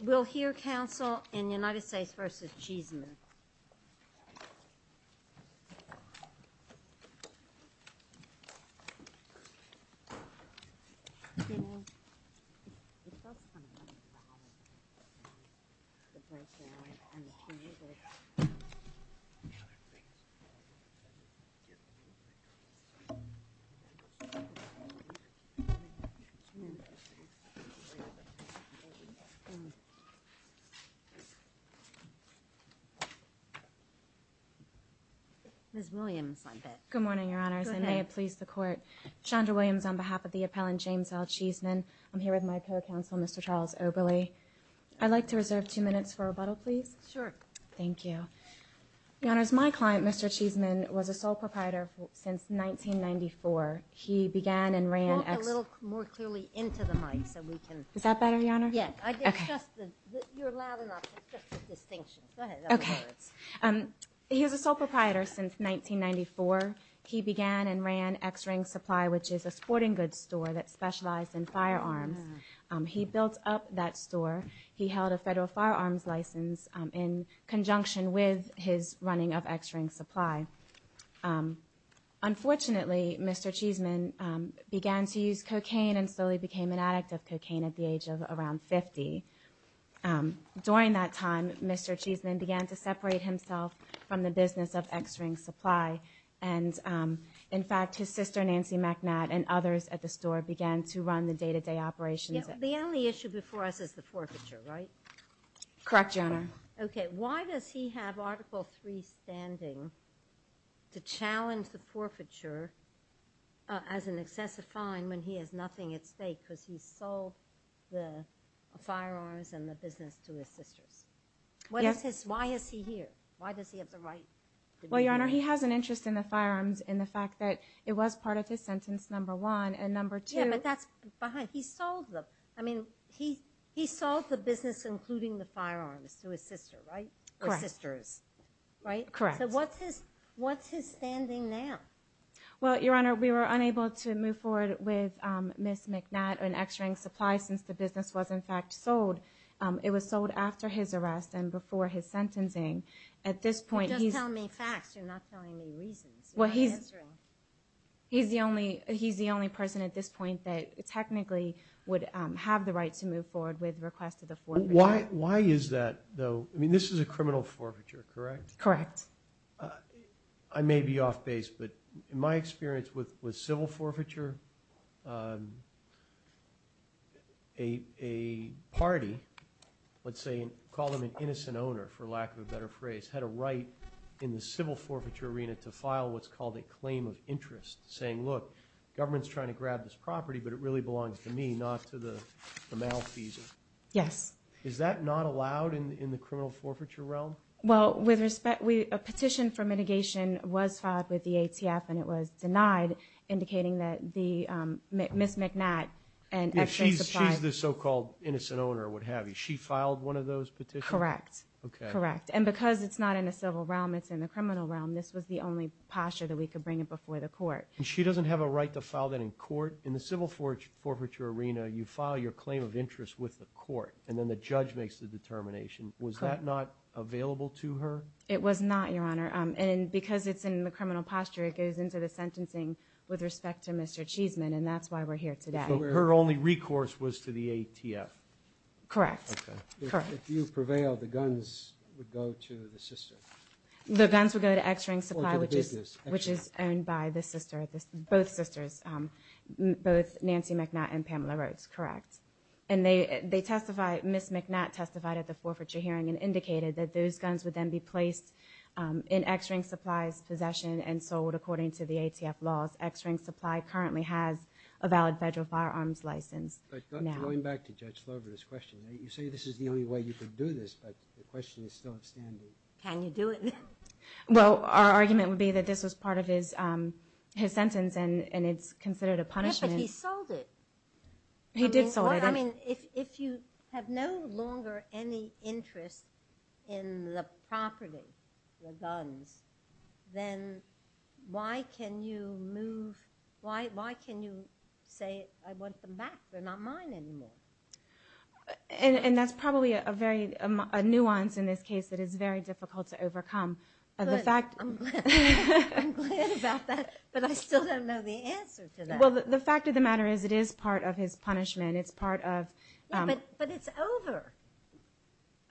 We will hear counsel in United States v. Cheeseman. We will hear counsel in United States v. Cheeseman. Ms. Williams, I bet. Good morning, Your Honors, and may it please the Court. Chandra Williams on behalf of the appellant, James L. Cheeseman. I'm here with my co-counsel, Mr. Charles Oberle. I'd like to reserve two minutes for rebuttal, please. Sure. Thank you. Your Honors, my client, Mr. Cheeseman, was a sole proprietor since 1994. He began and ran... Walk a little more clearly into the mic so we can... Is that better, Your Honor? Yeah. Okay. You're loud enough. It's just a distinction. Go ahead. Okay. He was a sole proprietor since 1994. He began and ran X-Ring Supply, which is a sporting goods store that specialized in firearms. He built up that store. He held a federal firearms license in conjunction with his running of X-Ring Supply. Unfortunately, Mr. Cheeseman began to use cocaine and slowly became an addict of cocaine at the age of around 50. During that time, Mr. Cheeseman began to separate himself from the business of X-Ring Supply. And, in fact, his sister, Nancy McNatt, and others at the store began to run the day-to-day operations. The only issue before us is the forfeiture, right? Correct, Your Honor. Okay. Why does he have Article III standing to challenge the forfeiture as an excessive fine when he has nothing at stake because he sold the firearms and the business to his sisters? Yes. Why is he here? Why does he have the right to be here? Well, Your Honor, he has an interest in the firearms and the fact that it was part of his sentence, number one. And number two... Yeah, but that's behind. He sold them. I mean, he sold the business, including the firearms, to his sister, right? Correct. Or sisters, right? Correct. So what's his standing now? Well, Your Honor, we were unable to move forward with Ms. McNatt and X-Ring Supply since the business was, in fact, sold. It was sold after his arrest and before his sentencing. At this point, he's... You're just telling me facts. You're not telling me reasons. You're not answering. He's the only person at this point that technically would have the right to move forward with request of the forfeiture. Why is that, though? I mean, this is a criminal forfeiture, correct? Correct. I may be off base, but in my experience with civil forfeiture, a party, let's say, call them an innocent owner, for lack of a better phrase, had a right in the civil forfeiture arena to file what's called a claim of interest, saying, look, government's trying to grab this property, but it really belongs to me, not to the malfeasance. Yes. Is that not allowed in the criminal forfeiture realm? Well, with respect, a petition for mitigation was filed with the ATF, and it was denied, indicating that Ms. McNatt and X-Ring Supply... She's the so-called innocent owner, what have you. She filed one of those petitions? Correct. And because it's not in the civil realm, it's in the criminal realm, this was the only posture that we could bring it before the court. She doesn't have a right to file that in court? In the civil forfeiture arena, you file your claim of interest with the court, and then the judge makes the determination. Was that not available to her? It was not, Your Honor. And because it's in the criminal posture, it goes into the sentencing with respect to Mr. Cheeseman, and that's why we're here today. So her only recourse was to the ATF? Correct. If you prevail, the guns would go to the sister? The guns would go to X-Ring Supply, which is owned by both sisters, both Nancy McNatt and Pamela Rhodes, correct. And Ms. McNatt testified at the forfeiture hearing and indicated that those guns would then be placed in X-Ring Supply's possession and sold according to the ATF laws. X-Ring Supply currently has a valid federal firearms license. But going back to Judge Slover's question, you say this is the only way you could do this, but the question is still outstanding. Can you do it? Well, our argument would be that this was part of his sentence and it's considered a punishment. Yeah, but he sold it. He did sell it. I mean, if you have no longer any interest in the property, the guns, then why can you say, I want them back? They're not mine anymore. And that's probably a nuance in this case that is very difficult to overcome. I'm glad about that, but I still don't know the answer to that. Well, the fact of the matter is it is part of his punishment. But it's over.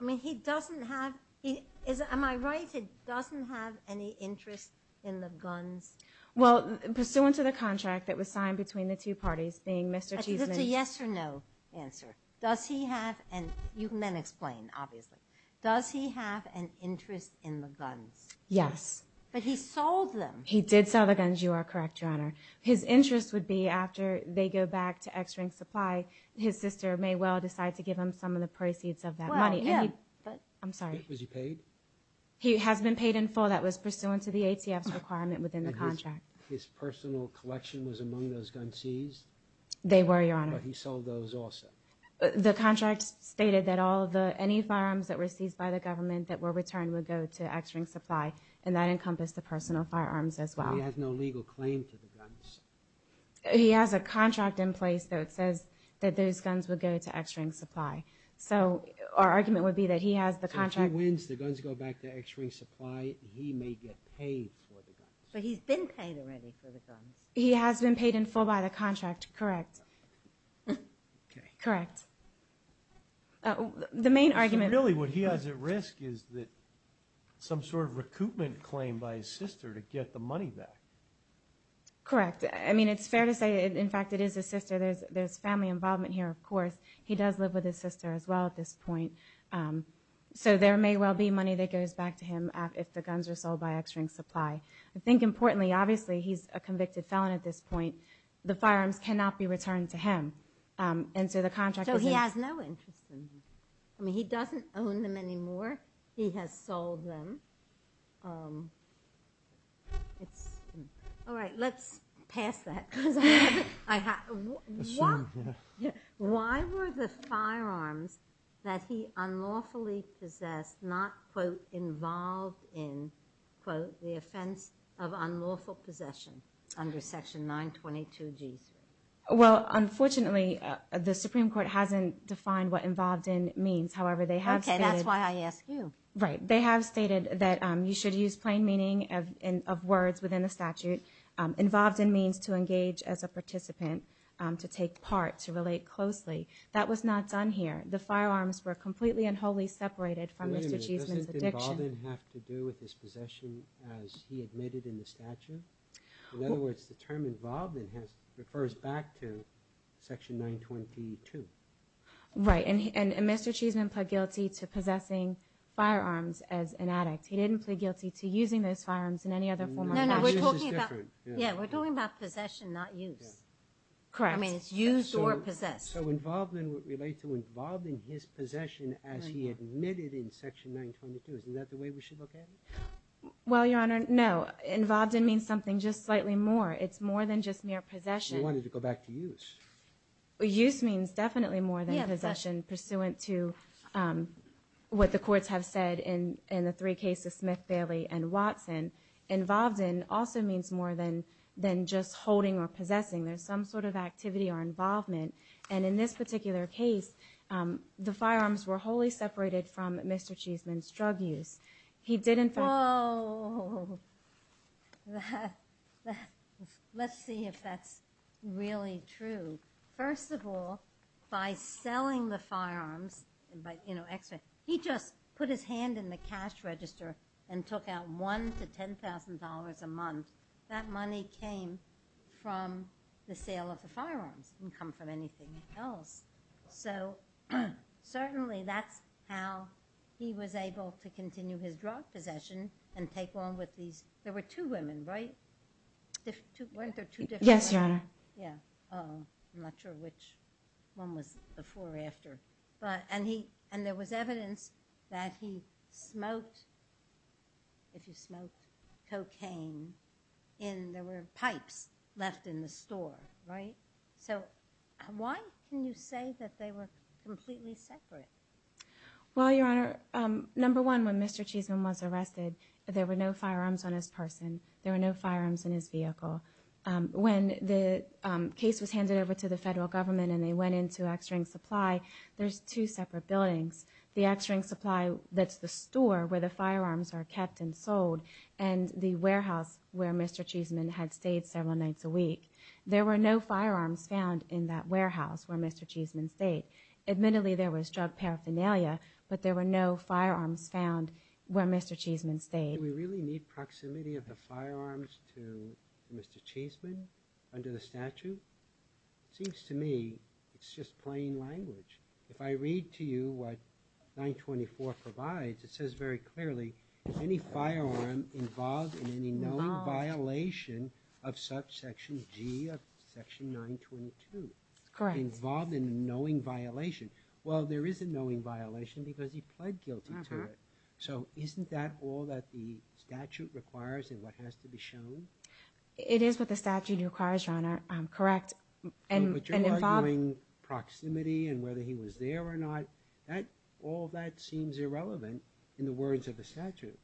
I mean, he doesn't have – am I right? He doesn't have any interest in the guns? Well, pursuant to the contract that was signed between the two parties, being Mr. Cheeseman's – It's a yes or no answer. Does he have an – you can then explain, obviously. Does he have an interest in the guns? Yes. But he sold them. He did sell the guns. You are correct, Your Honor. His interest would be after they go back to X-Ring Supply, his sister may well decide to give him some of the proceeds of that money. Well, him. I'm sorry. Was he paid? He has been paid in full. That was pursuant to the ATF's requirement within the contract. And his personal collection was among those guns seized? They were, Your Honor. But he sold those also? The contract stated that any firearms that were seized by the government that were returned would go to X-Ring Supply, and that encompassed the personal firearms as well. But he has no legal claim to the guns. He has a contract in place, though, that says that those guns would go to X-Ring Supply. So our argument would be that he has the contract. So if he wins, the guns go back to X-Ring Supply. He may get paid for the guns. But he's been paid already for the guns. He has been paid in full by the contract. Correct. Okay. Correct. The main argument – So really what he has at risk is some sort of recoupment claim by his sister to get the money back. Correct. I mean, it's fair to say, in fact, it is his sister. There's family involvement here, of course. He does live with his sister as well at this point. So there may well be money that goes back to him if the guns are sold by X-Ring Supply. I think importantly, obviously, he's a convicted felon at this point. The firearms cannot be returned to him. So he has no interest in them. I mean, he doesn't own them anymore. He has sold them. All right. Let's pass that. Why were the firearms that he unlawfully possessed not, quote, involved in, quote, the offense of unlawful possession under Section 922G3? Well, unfortunately, the Supreme Court hasn't defined what involved in means. However, they have stated – Okay. That's why I asked you. Right. They have stated that you should use plain meaning of words within the statute. Involved in means to engage as a participant, to take part, to relate closely. That was not done here. The firearms were completely and wholly separated from Mr. Cheesman's addiction. Wait a minute. Doesn't involved in have to do with his possession as he admitted in the statute? In other words, the term involved in refers back to Section 922. Right. And Mr. Cheesman pled guilty to possessing firearms as an addict. He didn't plead guilty to using those firearms in any other form or fashion. No, no. We're talking about – Yeah, we're talking about possession, not use. Correct. I mean, it's used or possessed. So involved in would relate to involved in his possession as he admitted in Section 922. Isn't that the way we should look at it? Well, Your Honor, no. Involved in means something just slightly more. It's more than just mere possession. We want it to go back to use. Use means definitely more than possession, pursuant to what the courts have said in the three cases, Smith, Bailey, and Watson. Involved in also means more than just holding or possessing. There's some sort of activity or involvement. And in this particular case, the firearms were wholly separated from Mr. Cheesman's drug use. He did, in fact – Oh, let's see if that's really true. First of all, by selling the firearms, he just put his hand in the cash register and took out $1,000 to $10,000 a month. That money came from the sale of the firearms. It didn't come from anything else. So certainly that's how he was able to continue his drug possession and take on with these – there were two women, right? Weren't there two different women? Yes, Your Honor. Yeah. I'm not sure which one was before or after. And there was evidence that he smoked, if you smoked cocaine, and there were pipes left in the store, right? So why can you say that they were completely separate? Well, Your Honor, number one, when Mr. Cheesman was arrested, there were no firearms on his person. There were no firearms in his vehicle. When the case was handed over to the federal government and they went into X-Ring Supply, there's two separate buildings. The X-Ring Supply, that's the store where the firearms are kept and sold, there were no firearms found in that warehouse where Mr. Cheesman stayed. Admittedly, there was drug paraphernalia, but there were no firearms found where Mr. Cheesman stayed. Do we really need proximity of the firearms to Mr. Cheesman under the statute? It seems to me it's just plain language. If I read to you what 924 provides, it says very clearly, any firearm involved in any knowing violation of subsection G of section 922. Correct. Involved in a knowing violation. Well, there is a knowing violation because he pled guilty to it. So isn't that all that the statute requires and what has to be shown? It is what the statute requires, Your Honor. Correct. And involving proximity and whether he was there or not, all that seems irrelevant in the words of the statute.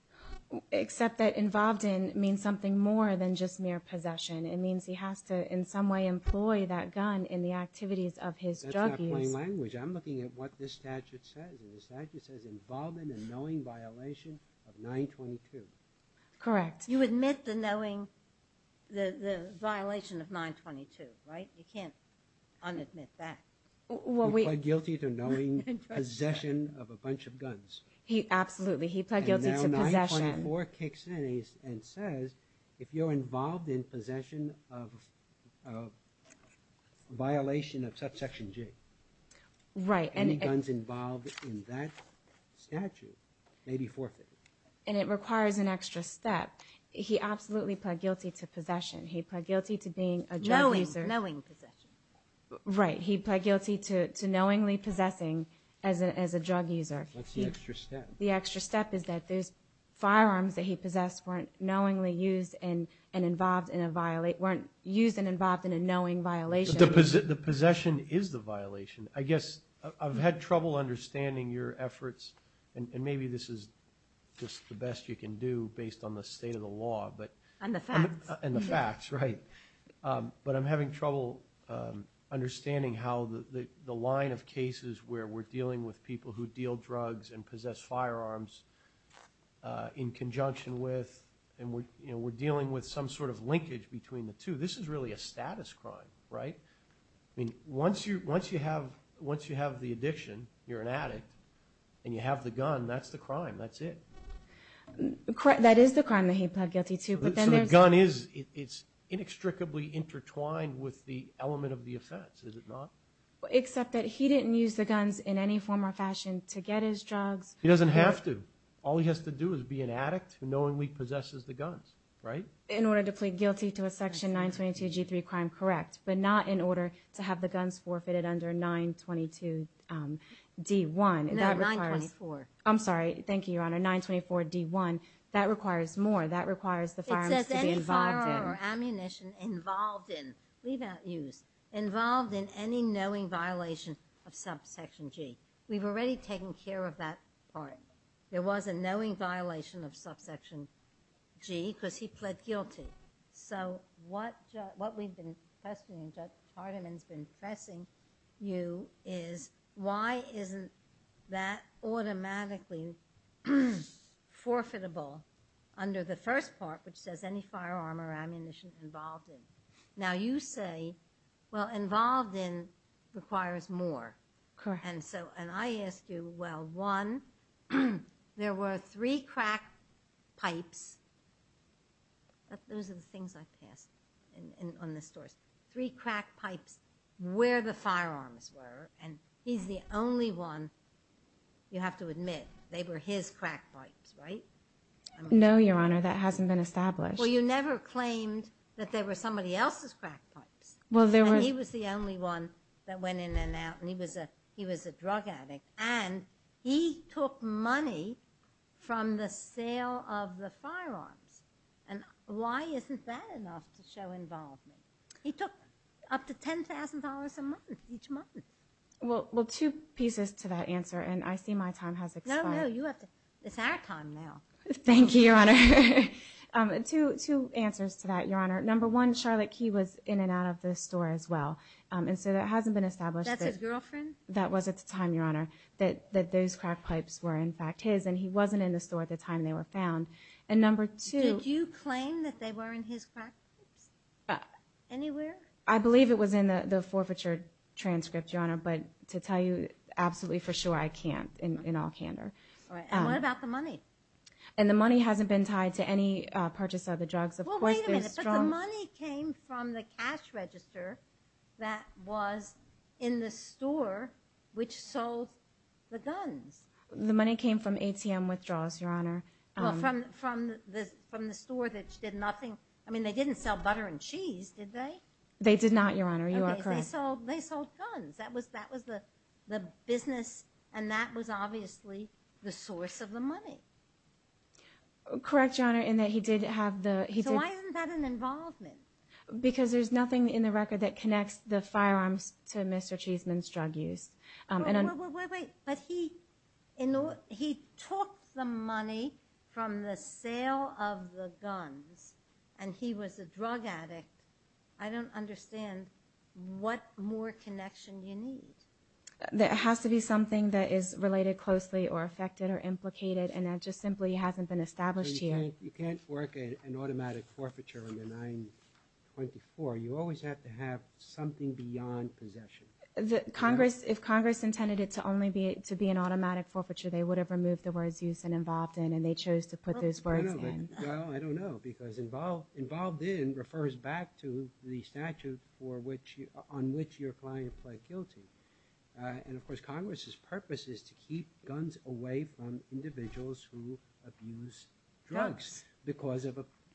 Except that involved in means something more than just mere possession. It means he has to in some way employ that gun in the activities of his drug use. That's not plain language. I'm looking at what this statute says, and the statute says involved in a knowing violation of 922. Correct. You admit the knowing, the violation of 922, right? You can't unadmit that. He pled guilty to knowing possession of a bunch of guns. Absolutely. He pled guilty to possession. And now 924 kicks in and says, if you're involved in possession of a violation of subsection G, any guns involved in that statute may be forfeited. And it requires an extra step. He absolutely pled guilty to possession. He pled guilty to being a drug user. Knowing possession. Right. He pled guilty to knowingly possessing as a drug user. What's the extra step? The extra step is that those firearms that he possessed weren't knowingly used and involved in a knowing violation. The possession is the violation. I guess I've had trouble understanding your efforts, and maybe this is just the best you can do based on the state of the law. And the facts. And the facts, right. But I'm having trouble understanding how the line of cases where we're dealing with people who deal drugs and possess firearms in conjunction with and we're dealing with some sort of linkage between the two. This is really a status crime, right? Once you have the addiction, you're an addict, and you have the gun, that's the crime. That's it. That is the crime that he pled guilty to. So the gun is inextricably intertwined with the element of the offense, is it not? Except that he didn't use the guns in any form or fashion to get his drugs. He doesn't have to. All he has to do is be an addict who knowingly possesses the guns, right? In order to plead guilty to a section 922G3 crime, correct, but not in order to have the guns forfeited under 922D1. No, 924. I'm sorry. Thank you, Your Honor. 924D1. That requires more. That requires the firearms to be involved in. It says any firearm or ammunition involved in, leave out use, involved in any knowing violation of subsection G. We've already taken care of that part. There was a knowing violation of subsection G because he pled guilty. So what we've been questioning, Judge Hardiman's been pressing you, is why isn't that automatically forfeitable under the first part, which says any firearm or ammunition involved in. Now you say, well, involved in requires more. Correct. And I ask you, well, one, there were three crack pipes. Those are the things I passed on this story. Three crack pipes where the firearms were, and he's the only one, you have to admit, they were his crack pipes, right? No, Your Honor. That hasn't been established. Well, you never claimed that they were somebody else's crack pipes. And he was the only one that went in and out, and he was a drug addict. And he took money from the sale of the firearms. And why isn't that enough to show involvement? He took up to $10,000 a month, each month. Well, two pieces to that answer, and I see my time has expired. No, no. It's our time now. Thank you, Your Honor. Two answers to that, Your Honor. Number one, Charlotte Key was in and out of the store as well. And so that hasn't been established. That's his girlfriend? That was at the time, Your Honor, that those crack pipes were, in fact, his, and he wasn't in the store at the time they were found. And number two. Did you claim that they were in his crack pipes? Anywhere? I believe it was in the forfeiture transcript, Your Honor, but to tell you absolutely for sure, I can't, in all candor. All right. And what about the money? And the money hasn't been tied to any purchase of the drugs. Well, wait a minute. But the money came from the cash register that was in the store, which sold the guns. The money came from ATM withdrawals, Your Honor. Well, from the store that did nothing. I mean, they didn't sell butter and cheese, did they? They did not, Your Honor. You are correct. They sold guns. That was the business, and that was obviously the source of the money. Correct, Your Honor, in that he did have the ‑‑ So why isn't that an involvement? Because there's nothing in the record that connects the firearms to Mr. Cheeseman's drug use. But he took the money from the sale of the guns, and he was a drug addict. I don't understand what more connection you need. That has to be something that is related closely or affected or implicated, and that just simply hasn't been established here. You can't work an automatic forfeiture under 924. You always have to have something beyond possession. If Congress intended it to only be an automatic forfeiture, they would have removed the words use and involved in, and they chose to put those words in. Well, I don't know, because involved in refers back to the statute on which your client pled guilty. And, of course, Congress's purpose is to keep guns away from individuals who abuse drugs because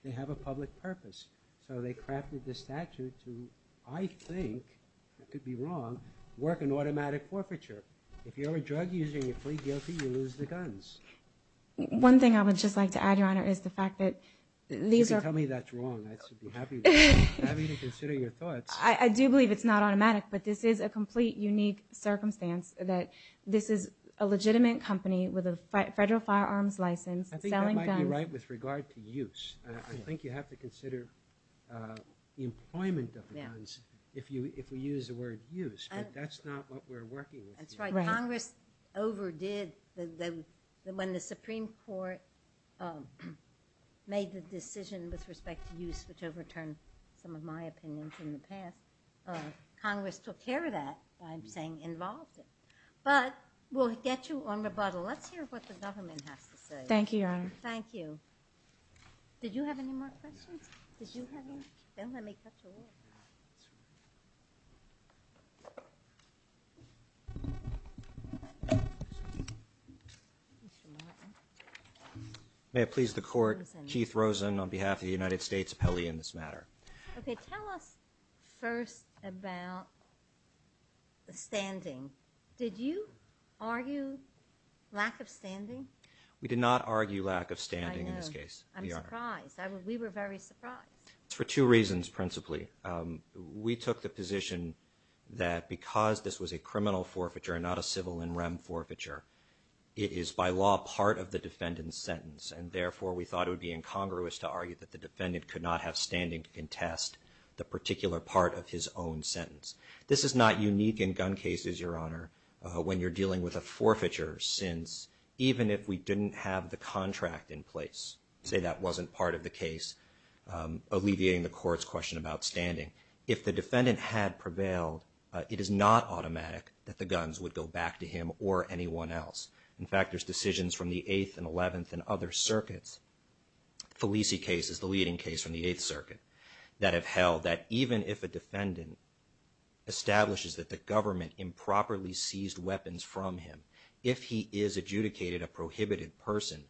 they have a public purpose. So they crafted the statute to, I think, I could be wrong, work an automatic forfeiture. If you're a drug user and you plead guilty, you lose the guns. One thing I would just like to add, Your Honor, is the fact that these are You can tell me that's wrong. I should be happy to consider your thoughts. I do believe it's not automatic, but this is a complete unique circumstance that this is a legitimate company with a federal firearms license selling guns I think that might be right with regard to use. I think you have to consider the employment of the guns if we use the word use, but that's not what we're working with. That's right. Congress overdid when the Supreme Court made the decision with respect to use, which overturned some of my opinions in the past. Congress took care of that by saying involved in. But we'll get you on rebuttal. Let's hear what the government has to say. Thank you, Your Honor. Thank you. Did you have any more questions? Did you have any? Then let me cut you off. May it please the Court, Keith Rosen on behalf of the United States appellee in this matter. Okay, tell us first about the standing. Did you argue lack of standing? We did not argue lack of standing in this case, Your Honor. I'm surprised. We were very surprised. It's for two reasons principally. We took the position that because this was a criminal forfeiture and not a civil and rem forfeiture, it is by law part of the defendant's sentence, and therefore we thought it would be incongruous to argue that the defendant could not have standing to contest the particular part of his own sentence. This is not unique in gun cases, Your Honor, when you're dealing with a forfeiture, since even if we didn't have the contract in place, say that wasn't part of the case, alleviating the Court's question about standing, if the defendant had prevailed, it is not automatic that the guns would go back to him or anyone else. In fact, there's decisions from the 8th and 11th and other circuits, Felici case is the leading case from the 8th Circuit, that have held that even if a defendant establishes that the government improperly seized weapons from him, if he is adjudicated a prohibited person,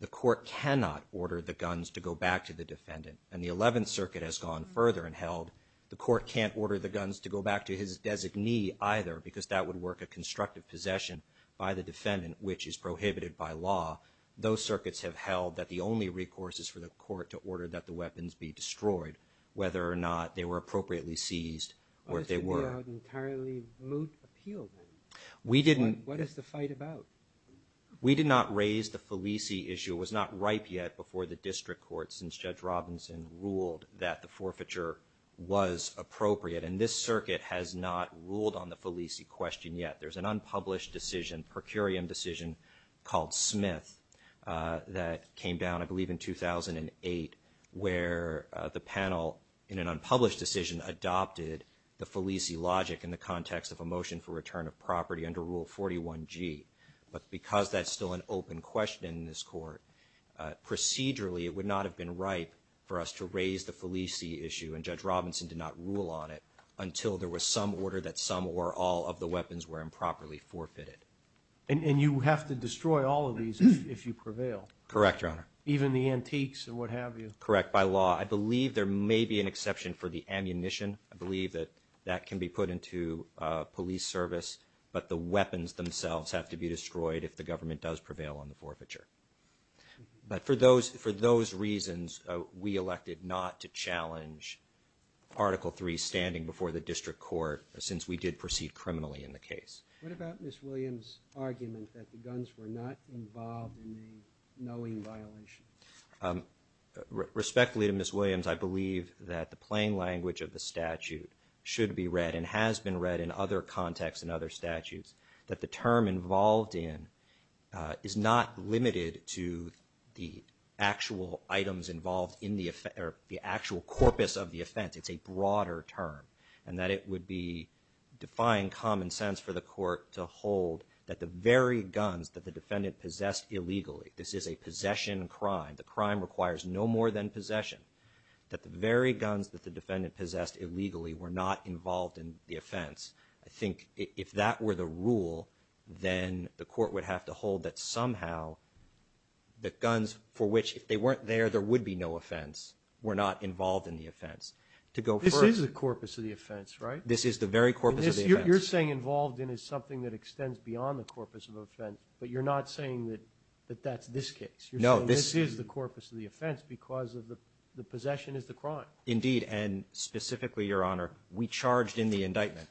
the Court cannot order the guns to go back to the defendant. And the 11th Circuit has gone further and held the Court can't order the guns to go back to his designee either, because that would work a constructive possession by the defendant, which is prohibited by law. Those circuits have held that the only recourse is for the Court to order that the weapons be destroyed, whether or not they were appropriately seized or if they were. But that would be an entirely moot appeal then. We didn't. What is the fight about? We did not raise the Felici issue. It was not ripe yet before the District Court, since Judge Robinson ruled that the forfeiture was appropriate. And this circuit has not ruled on the Felici question yet. There's an unpublished decision, per curiam decision called Smith that came down I believe in 2008, where the panel in an unpublished decision adopted the Felici logic in the context of a motion for return of property under Rule 41G. But because that's still an open question in this Court, procedurally it would not have been ripe for us to raise the Felici issue, and Judge Robinson did not rule on it until there was some order that some or all of the weapons were improperly forfeited. Correct, Your Honor. Even the antiques and what have you? Correct. By law. I believe there may be an exception for the ammunition. I believe that that can be put into police service, but the weapons themselves have to be destroyed if the government does prevail on the forfeiture. But for those reasons, we elected not to challenge Article III standing before the District Court since we did proceed criminally in the case. What about Ms. Williams' argument that the guns were not involved in the knowing violation? Respectfully to Ms. Williams, I believe that the plain language of the statute should be read and has been read in other contexts and other statutes, that the term involved in is not limited to the actual items involved in the effect or the actual corpus of the offense. It's a broader term, and that it would be defying common sense for the Court to hold that the very guns that the defendant possessed illegally, this is a possession crime, the crime requires no more than possession, that the very guns that the defendant possessed illegally were not involved in the offense. I think if that were the rule, then the Court would have to hold that somehow the guns for which, if they weren't there, there would be no offense, were not involved in the offense. This is the very corpus of the offense. You're saying involved in is something that extends beyond the corpus of offense, but you're not saying that that's this case. You're saying this is the corpus of the offense because the possession is the crime. Indeed, and specifically, Your Honor, we charged in the indictment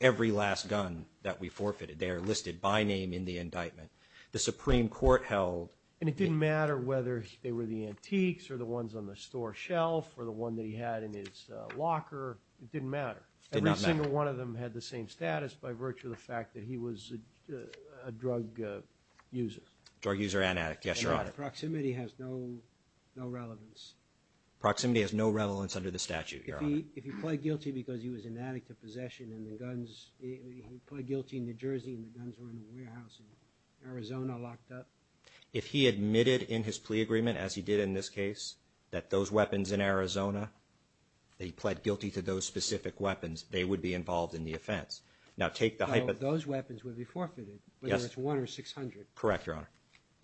every last gun that we forfeited. They are listed by name in the indictment. The Supreme Court held... And it didn't matter whether they were the antiques or the ones on the store shelf or the one that he had in his locker. It didn't matter. Every single one of them had the same status by virtue of the fact that he was a drug user. Drug user and addict. Yes, Your Honor. Proximity has no relevance. Proximity has no relevance under the statute, Your Honor. If he pled guilty because he was an addict to possession and the guns... He pled guilty in New Jersey and the guns were in a warehouse in Arizona locked up. If he admitted in his plea agreement, as he did in this case, that those weapons in Arizona, that he pled guilty to those specific weapons, they would be involved in the offense. Now, take the... Those weapons would be forfeited, whether it's one or 600. Correct, Your Honor.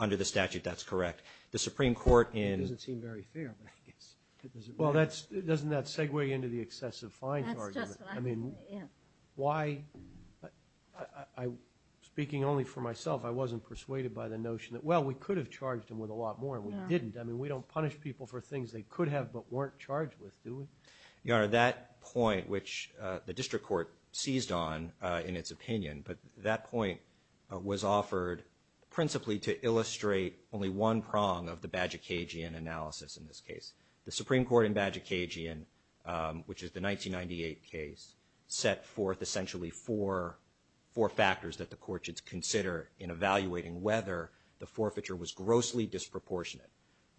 Under the statute, that's correct. The Supreme Court in... It doesn't seem very fair, but I guess... Well, doesn't that segue into the excessive fines argument? That's just what I... I mean, why... Speaking only for myself, I wasn't persuaded by the notion that, well, we could have charged him with a lot more and we didn't. I mean, we don't punish people for things they could have, but weren't charged with, do we? Your Honor, that point, which the district court seized on in its opinion, but that point was offered principally to illustrate only one prong of the Badgikagian analysis in this case. The Supreme Court in Badgikagian, which is the 1998 case, set forth essentially four factors that the court should consider in evaluating whether the forfeiture was grossly disproportionate.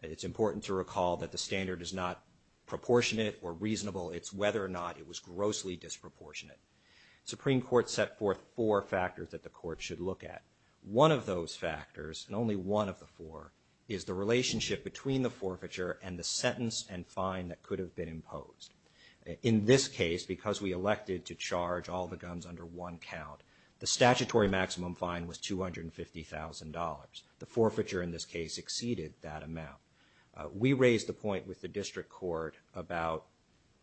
It's important to recall that the standard is not proportionate or reasonable. It's whether or not it was grossly disproportionate. The Supreme Court set forth four factors that the court should look at. One of those factors, and only one of the four, is the relationship between the forfeiture and the sentence and fine that could have been imposed. In this case, because we elected to charge all the guns under one count, the statutory maximum fine was $250,000. The forfeiture in this case exceeded that amount. We raised the point with the district court about,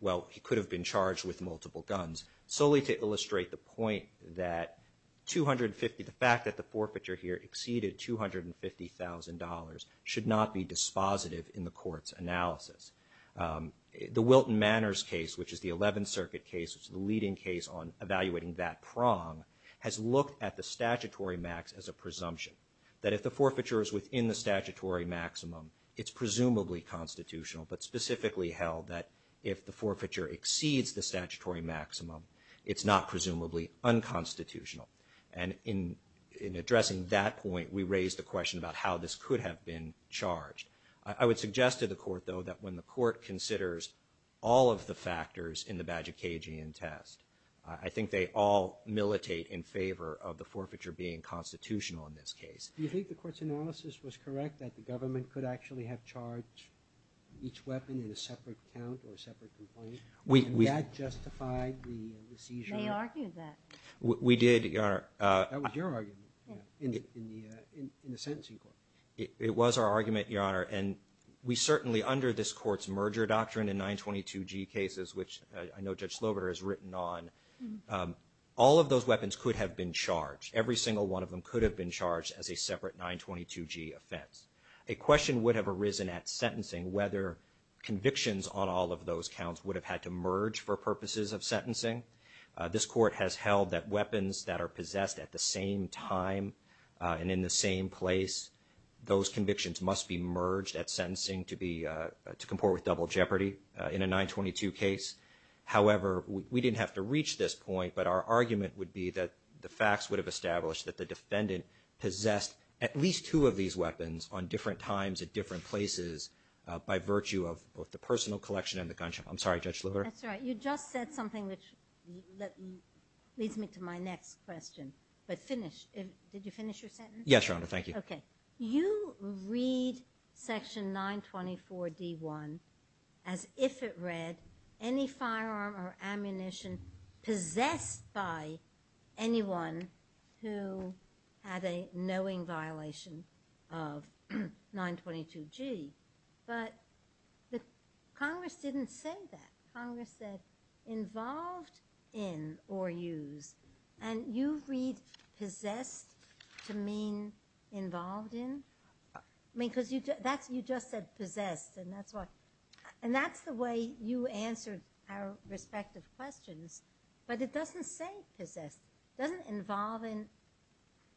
well, he could have been charged with multiple guns, solely to illustrate the point that 250, the fact that the forfeiture here exceeded $250,000 should not be dispositive in the court's analysis. The Wilton Manors case, which is the 11th Circuit case, which is the leading case on evaluating that prong, has looked at the statutory max as a presumption, that if the forfeiture is within the statutory maximum, it's presumably constitutional, but specifically held that if the forfeiture exceeds the statutory maximum, it's not presumably unconstitutional. And in addressing that point, we raised the question about how this could have been charged. I would suggest to the court, though, that when the court considers all of the factors in the Bagicagian test, I think they all militate in favor of the forfeiture being constitutional in this case. Do you think the court's analysis was correct, that the government could actually have charged each weapon in a separate count or a separate complaint? And that justified the seizure? They argued that. We did, Your Honor. It was our argument, Your Honor, and we certainly under this court's merger doctrine in 922G cases, which I know Judge Slobiter has written on, all of those weapons could have been charged. Every single one of them could have been charged as a separate 922G offense. A question would have arisen at sentencing whether convictions on all of those counts would have had to merge for purposes of sentencing. This court has held that weapons that are possessed at the same time and in the same place, those convictions must be merged at sentencing to comport with double jeopardy in a 922 case. However, we didn't have to reach this point, but our argument would be that the facts would have established that the defendant possessed at least two of these weapons on different times at different places by virtue of both the personal collection and the gunshot. I'm sorry, Judge Slobiter. That's all right. You just said something which leads me to my next question. Did you finish your sentence? Yes, Your Honor. Thank you. Okay. You read Section 924D1 as if it read any firearm or ammunition possessed by anyone who had a knowing violation of 922G, but Congress didn't say that. Congress said involved in or use, and you read possessed to mean involved in? I mean, because you just said possessed, and that's the way you answered our respective questions, but it doesn't say possessed. It doesn't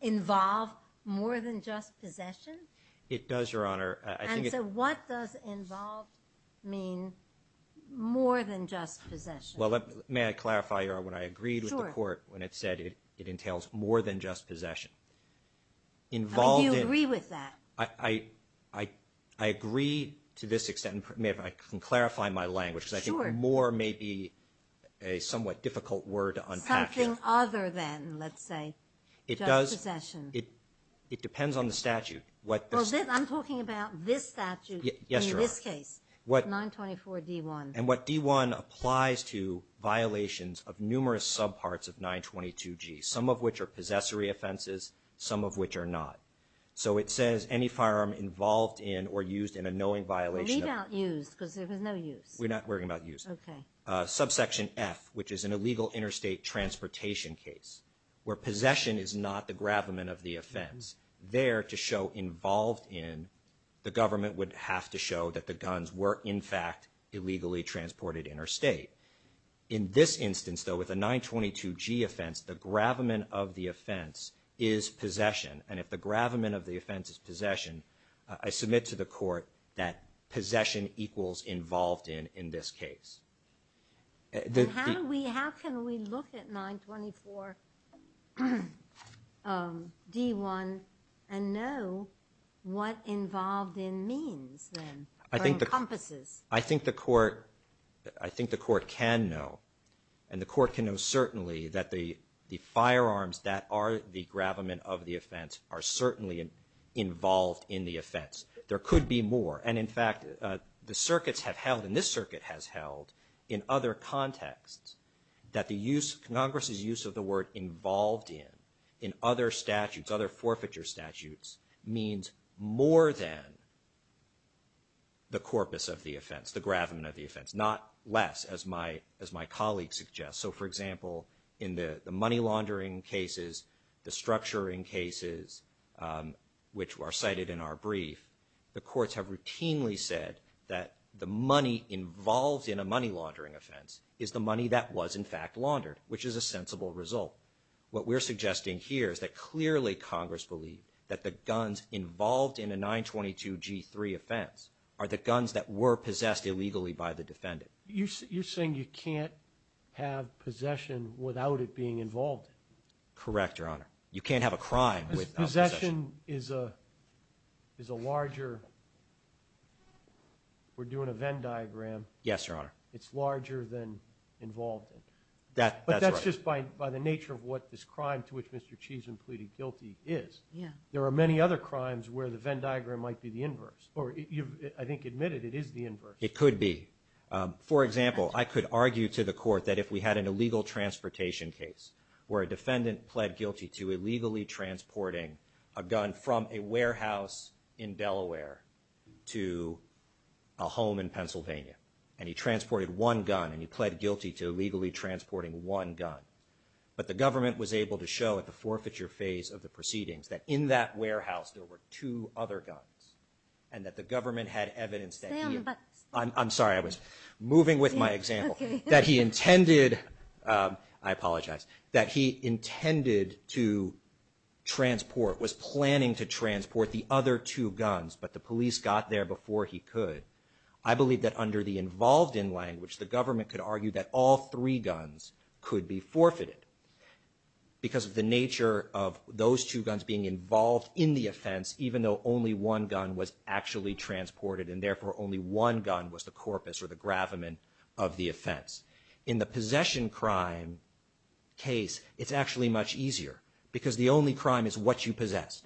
involve more than just possession? It does, Your Honor. And so what does involved mean more than just possession? Well, may I clarify, Your Honor, when I agreed with the court when it said it entails more than just possession? Do you agree with that? I agree to this extent. May I clarify my language? Because I think more may be a somewhat difficult word to unpack. Something other than, let's say, just possession. It depends on the statute. Well, I'm talking about this statute in this case, 924D1. And what D1 applies to violations of numerous subparts of 922G, some of which are possessory offenses, some of which are not. So it says any firearm involved in or used in a knowing violation. Well, we don't use because there was no use. We're not worrying about use. Okay. Subsection F, which is an illegal interstate transportation case, where possession is not the gravamen of the offense, there to show involved in, the government would have to show that the guns were, in fact, illegally transported interstate. In this instance, though, with a 922G offense, the gravamen of the offense is possession. And if the gravamen of the offense is possession, I submit to the court that possession equals involved in in this case. How can we look at 924D1 and know what involved in means then or encompasses? I think the court can know, and the court can know certainly that the firearms that are the gravamen of the offense are certainly involved in the offense. There could be more. And, in fact, the circuits have held, and this circuit has held, in other contexts that Congress's use of the word involved in, in other statutes, other forfeiture statutes, means more than the corpus of the offense, the gravamen of the offense, not less, as my colleague suggests. So, for example, in the money laundering cases, the structuring cases, which are cited in our brief, the courts have routinely said that the money involved in a money laundering offense is the money that was, in fact, laundered, which is a sensible result. What we're suggesting here is that clearly Congress believed that the guns involved in a 922G3 offense are the guns that were possessed illegally by the defendant. You're saying you can't have possession without it being involved in. Correct, Your Honor. You can't have a crime without possession. Possession is a larger, we're doing a Venn diagram. Yes, Your Honor. It's larger than involved in. That's right. By the nature of what this crime to which Mr. Cheesman pleaded guilty is, there are many other crimes where the Venn diagram might be the inverse, or you've, I think, admitted it is the inverse. It could be. For example, I could argue to the court that if we had an illegal transportation case where a defendant pled guilty to illegally transporting a gun from a warehouse in Delaware to a home in Pennsylvania, and he transported one gun and he pled guilty to illegally transporting one gun, but the government was able to show at the forfeiture phase of the proceedings that in that warehouse there were two other guns, and that the government had evidence that he had. Stay on the bus. I'm sorry. I was moving with my example. Okay. That he intended, I apologize, that he intended to transport, was planning to transport the other two guns, but the police got there before he could. I believe that under the involved in language, the government could argue that all three guns could be forfeited because of the nature of those two guns being involved in the offense, even though only one gun was actually transported and therefore only one gun was the corpus or the gravamen of the offense. In the possession crime case, it's actually much easier because the only crime is what you possess,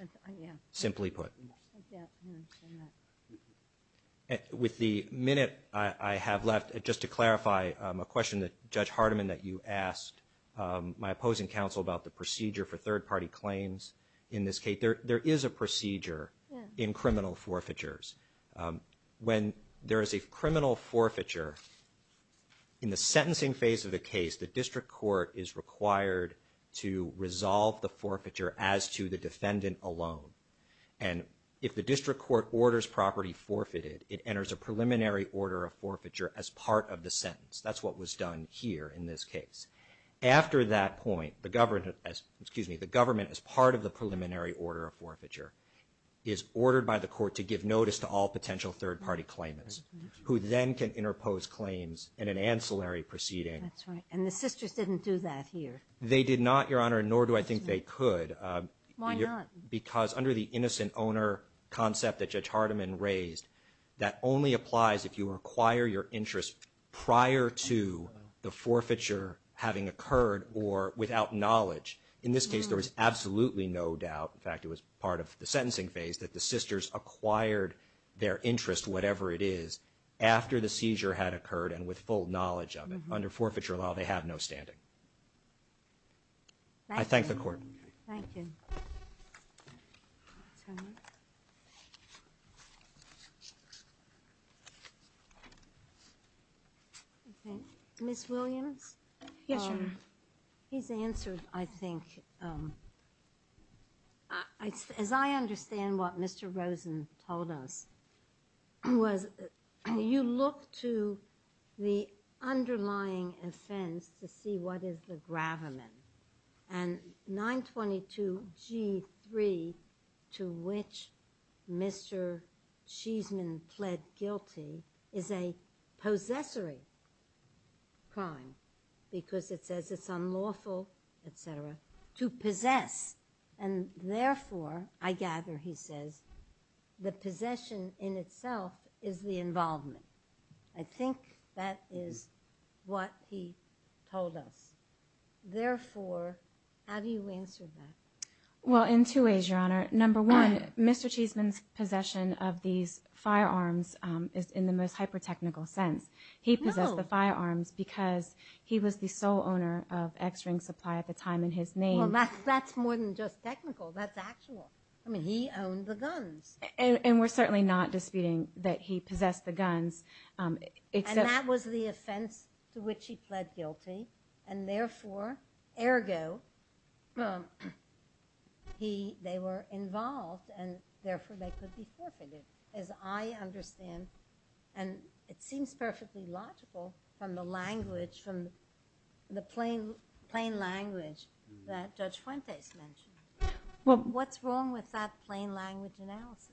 simply put. Yeah, I understand that. With the minute I have left, just to clarify a question that Judge Hardiman that you asked my opposing counsel about the procedure for third-party claims in this case, there is a procedure in criminal forfeitures. When there is a criminal forfeiture, in the sentencing phase of the case, the district court is required to resolve the forfeiture as to the defendant alone, and if the district court orders property forfeited, it enters a preliminary order of forfeiture as part of the sentence. That's what was done here in this case. After that point, the government as part of the preliminary order of forfeiture is ordered by the court to give notice to all potential third-party claimants who then can interpose claims in an ancillary proceeding. That's right, and the sisters didn't do that here. They did not, Your Honor, nor do I think they could. Why not? Because under the innocent owner concept that Judge Hardiman raised, that only applies if you acquire your interest prior to the forfeiture having occurred or without knowledge. In this case, there was absolutely no doubt, in fact it was part of the sentencing phase, that the sisters acquired their interest, whatever it is, after the seizure had occurred and with full knowledge of it. Under forfeiture law, they have no standing. I thank the court. Thank you. Ms. Williams? Yes, Your Honor. His answer, I think, as I understand what Mr. Rosen told us, was you look to the underlying offense to see what is the gravamen. And 922G3, to which Mr. Cheeseman pled guilty, is a possessory crime because it says it's unlawful, et cetera, to possess. And therefore, I gather, he says, the possession in itself is the involvement. I think that is what he told us. Therefore, how do you answer that? Well, in two ways, Your Honor. Number one, Mr. Cheeseman's possession of these firearms is in the most hyper-technical sense. He possessed the firearms because he was the sole owner of X-Ring Supply at the time in his name. Well, that's more than just technical. That's actual. I mean, he owned the guns. And we're certainly not disputing that he possessed the guns. And that was the offense to which he pled guilty. And therefore, ergo, they were involved, and therefore they could be forfeited. As I understand, and it seems perfectly logical from the language, from the plain language that Judge Fuentes mentioned, what's wrong with that plain language analysis?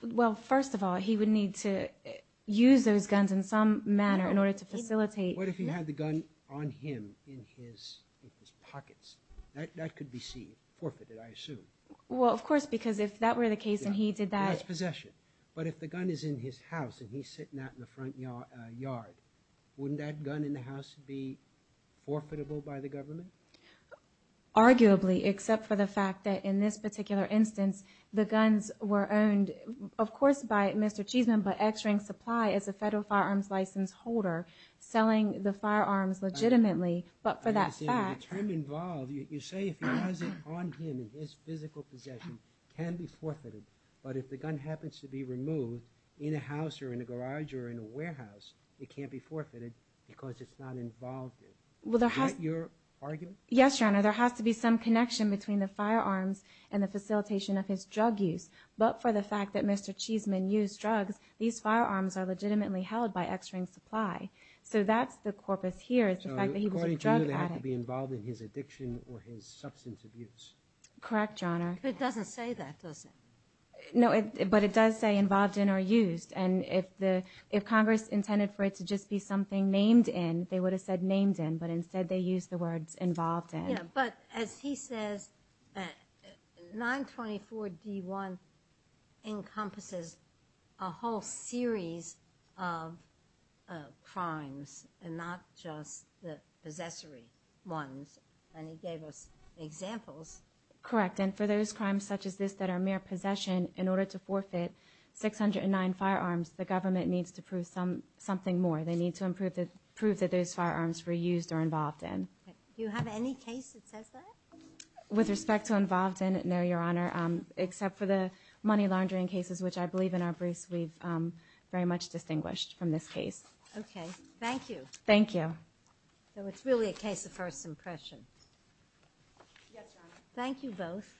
Well, first of all, he would need to use those guns in some manner in order to facilitate. What if he had the gun on him in his pockets? That could be forfeited, I assume. Well, of course, because if that were the case and he did that. That's possession. But if the gun is in his house and he's sitting out in the front yard, wouldn't that gun in the house be forfeitable by the government? Arguably, except for the fact that in this particular instance, the guns were owned, of course, by Mr. Cheesman, but X-Ring Supply is a federal firearms license holder selling the firearms legitimately. But for that fact. The term involved, you say if he has it on him in his physical possession, it can be forfeited. But if the gun happens to be removed in a house or in a garage or in a warehouse, it can't be forfeited because it's not involved. Is that your argument? Yes, Your Honor. There has to be some connection between the firearms and the facilitation of his drug use. But for the fact that Mr. Cheesman used drugs, these firearms are legitimately held by X-Ring Supply. So that's the corpus here is the fact that he was a drug addict. So according to you, they have to be involved in his addiction or his substance abuse. Correct, Your Honor. But it doesn't say that, does it? No, but it does say involved in or used. And if Congress intended for it to just be something named in, they would have said named in, but instead they used the words involved in. Yeah, but as he says, 924-D1 encompasses a whole series of crimes and not just the possessory ones. And he gave us examples. Correct. And for those crimes such as this that are mere possession, in order to forfeit 609 firearms, the government needs to prove something more. They need to prove that those firearms were used or involved in. Do you have any case that says that? With respect to involved in, no, Your Honor, except for the money laundering cases, which I believe in our briefs we've very much distinguished from this case. Okay. Thank you. Thank you. So it's really a case of first impression. Yes, Your Honor. Thank you both.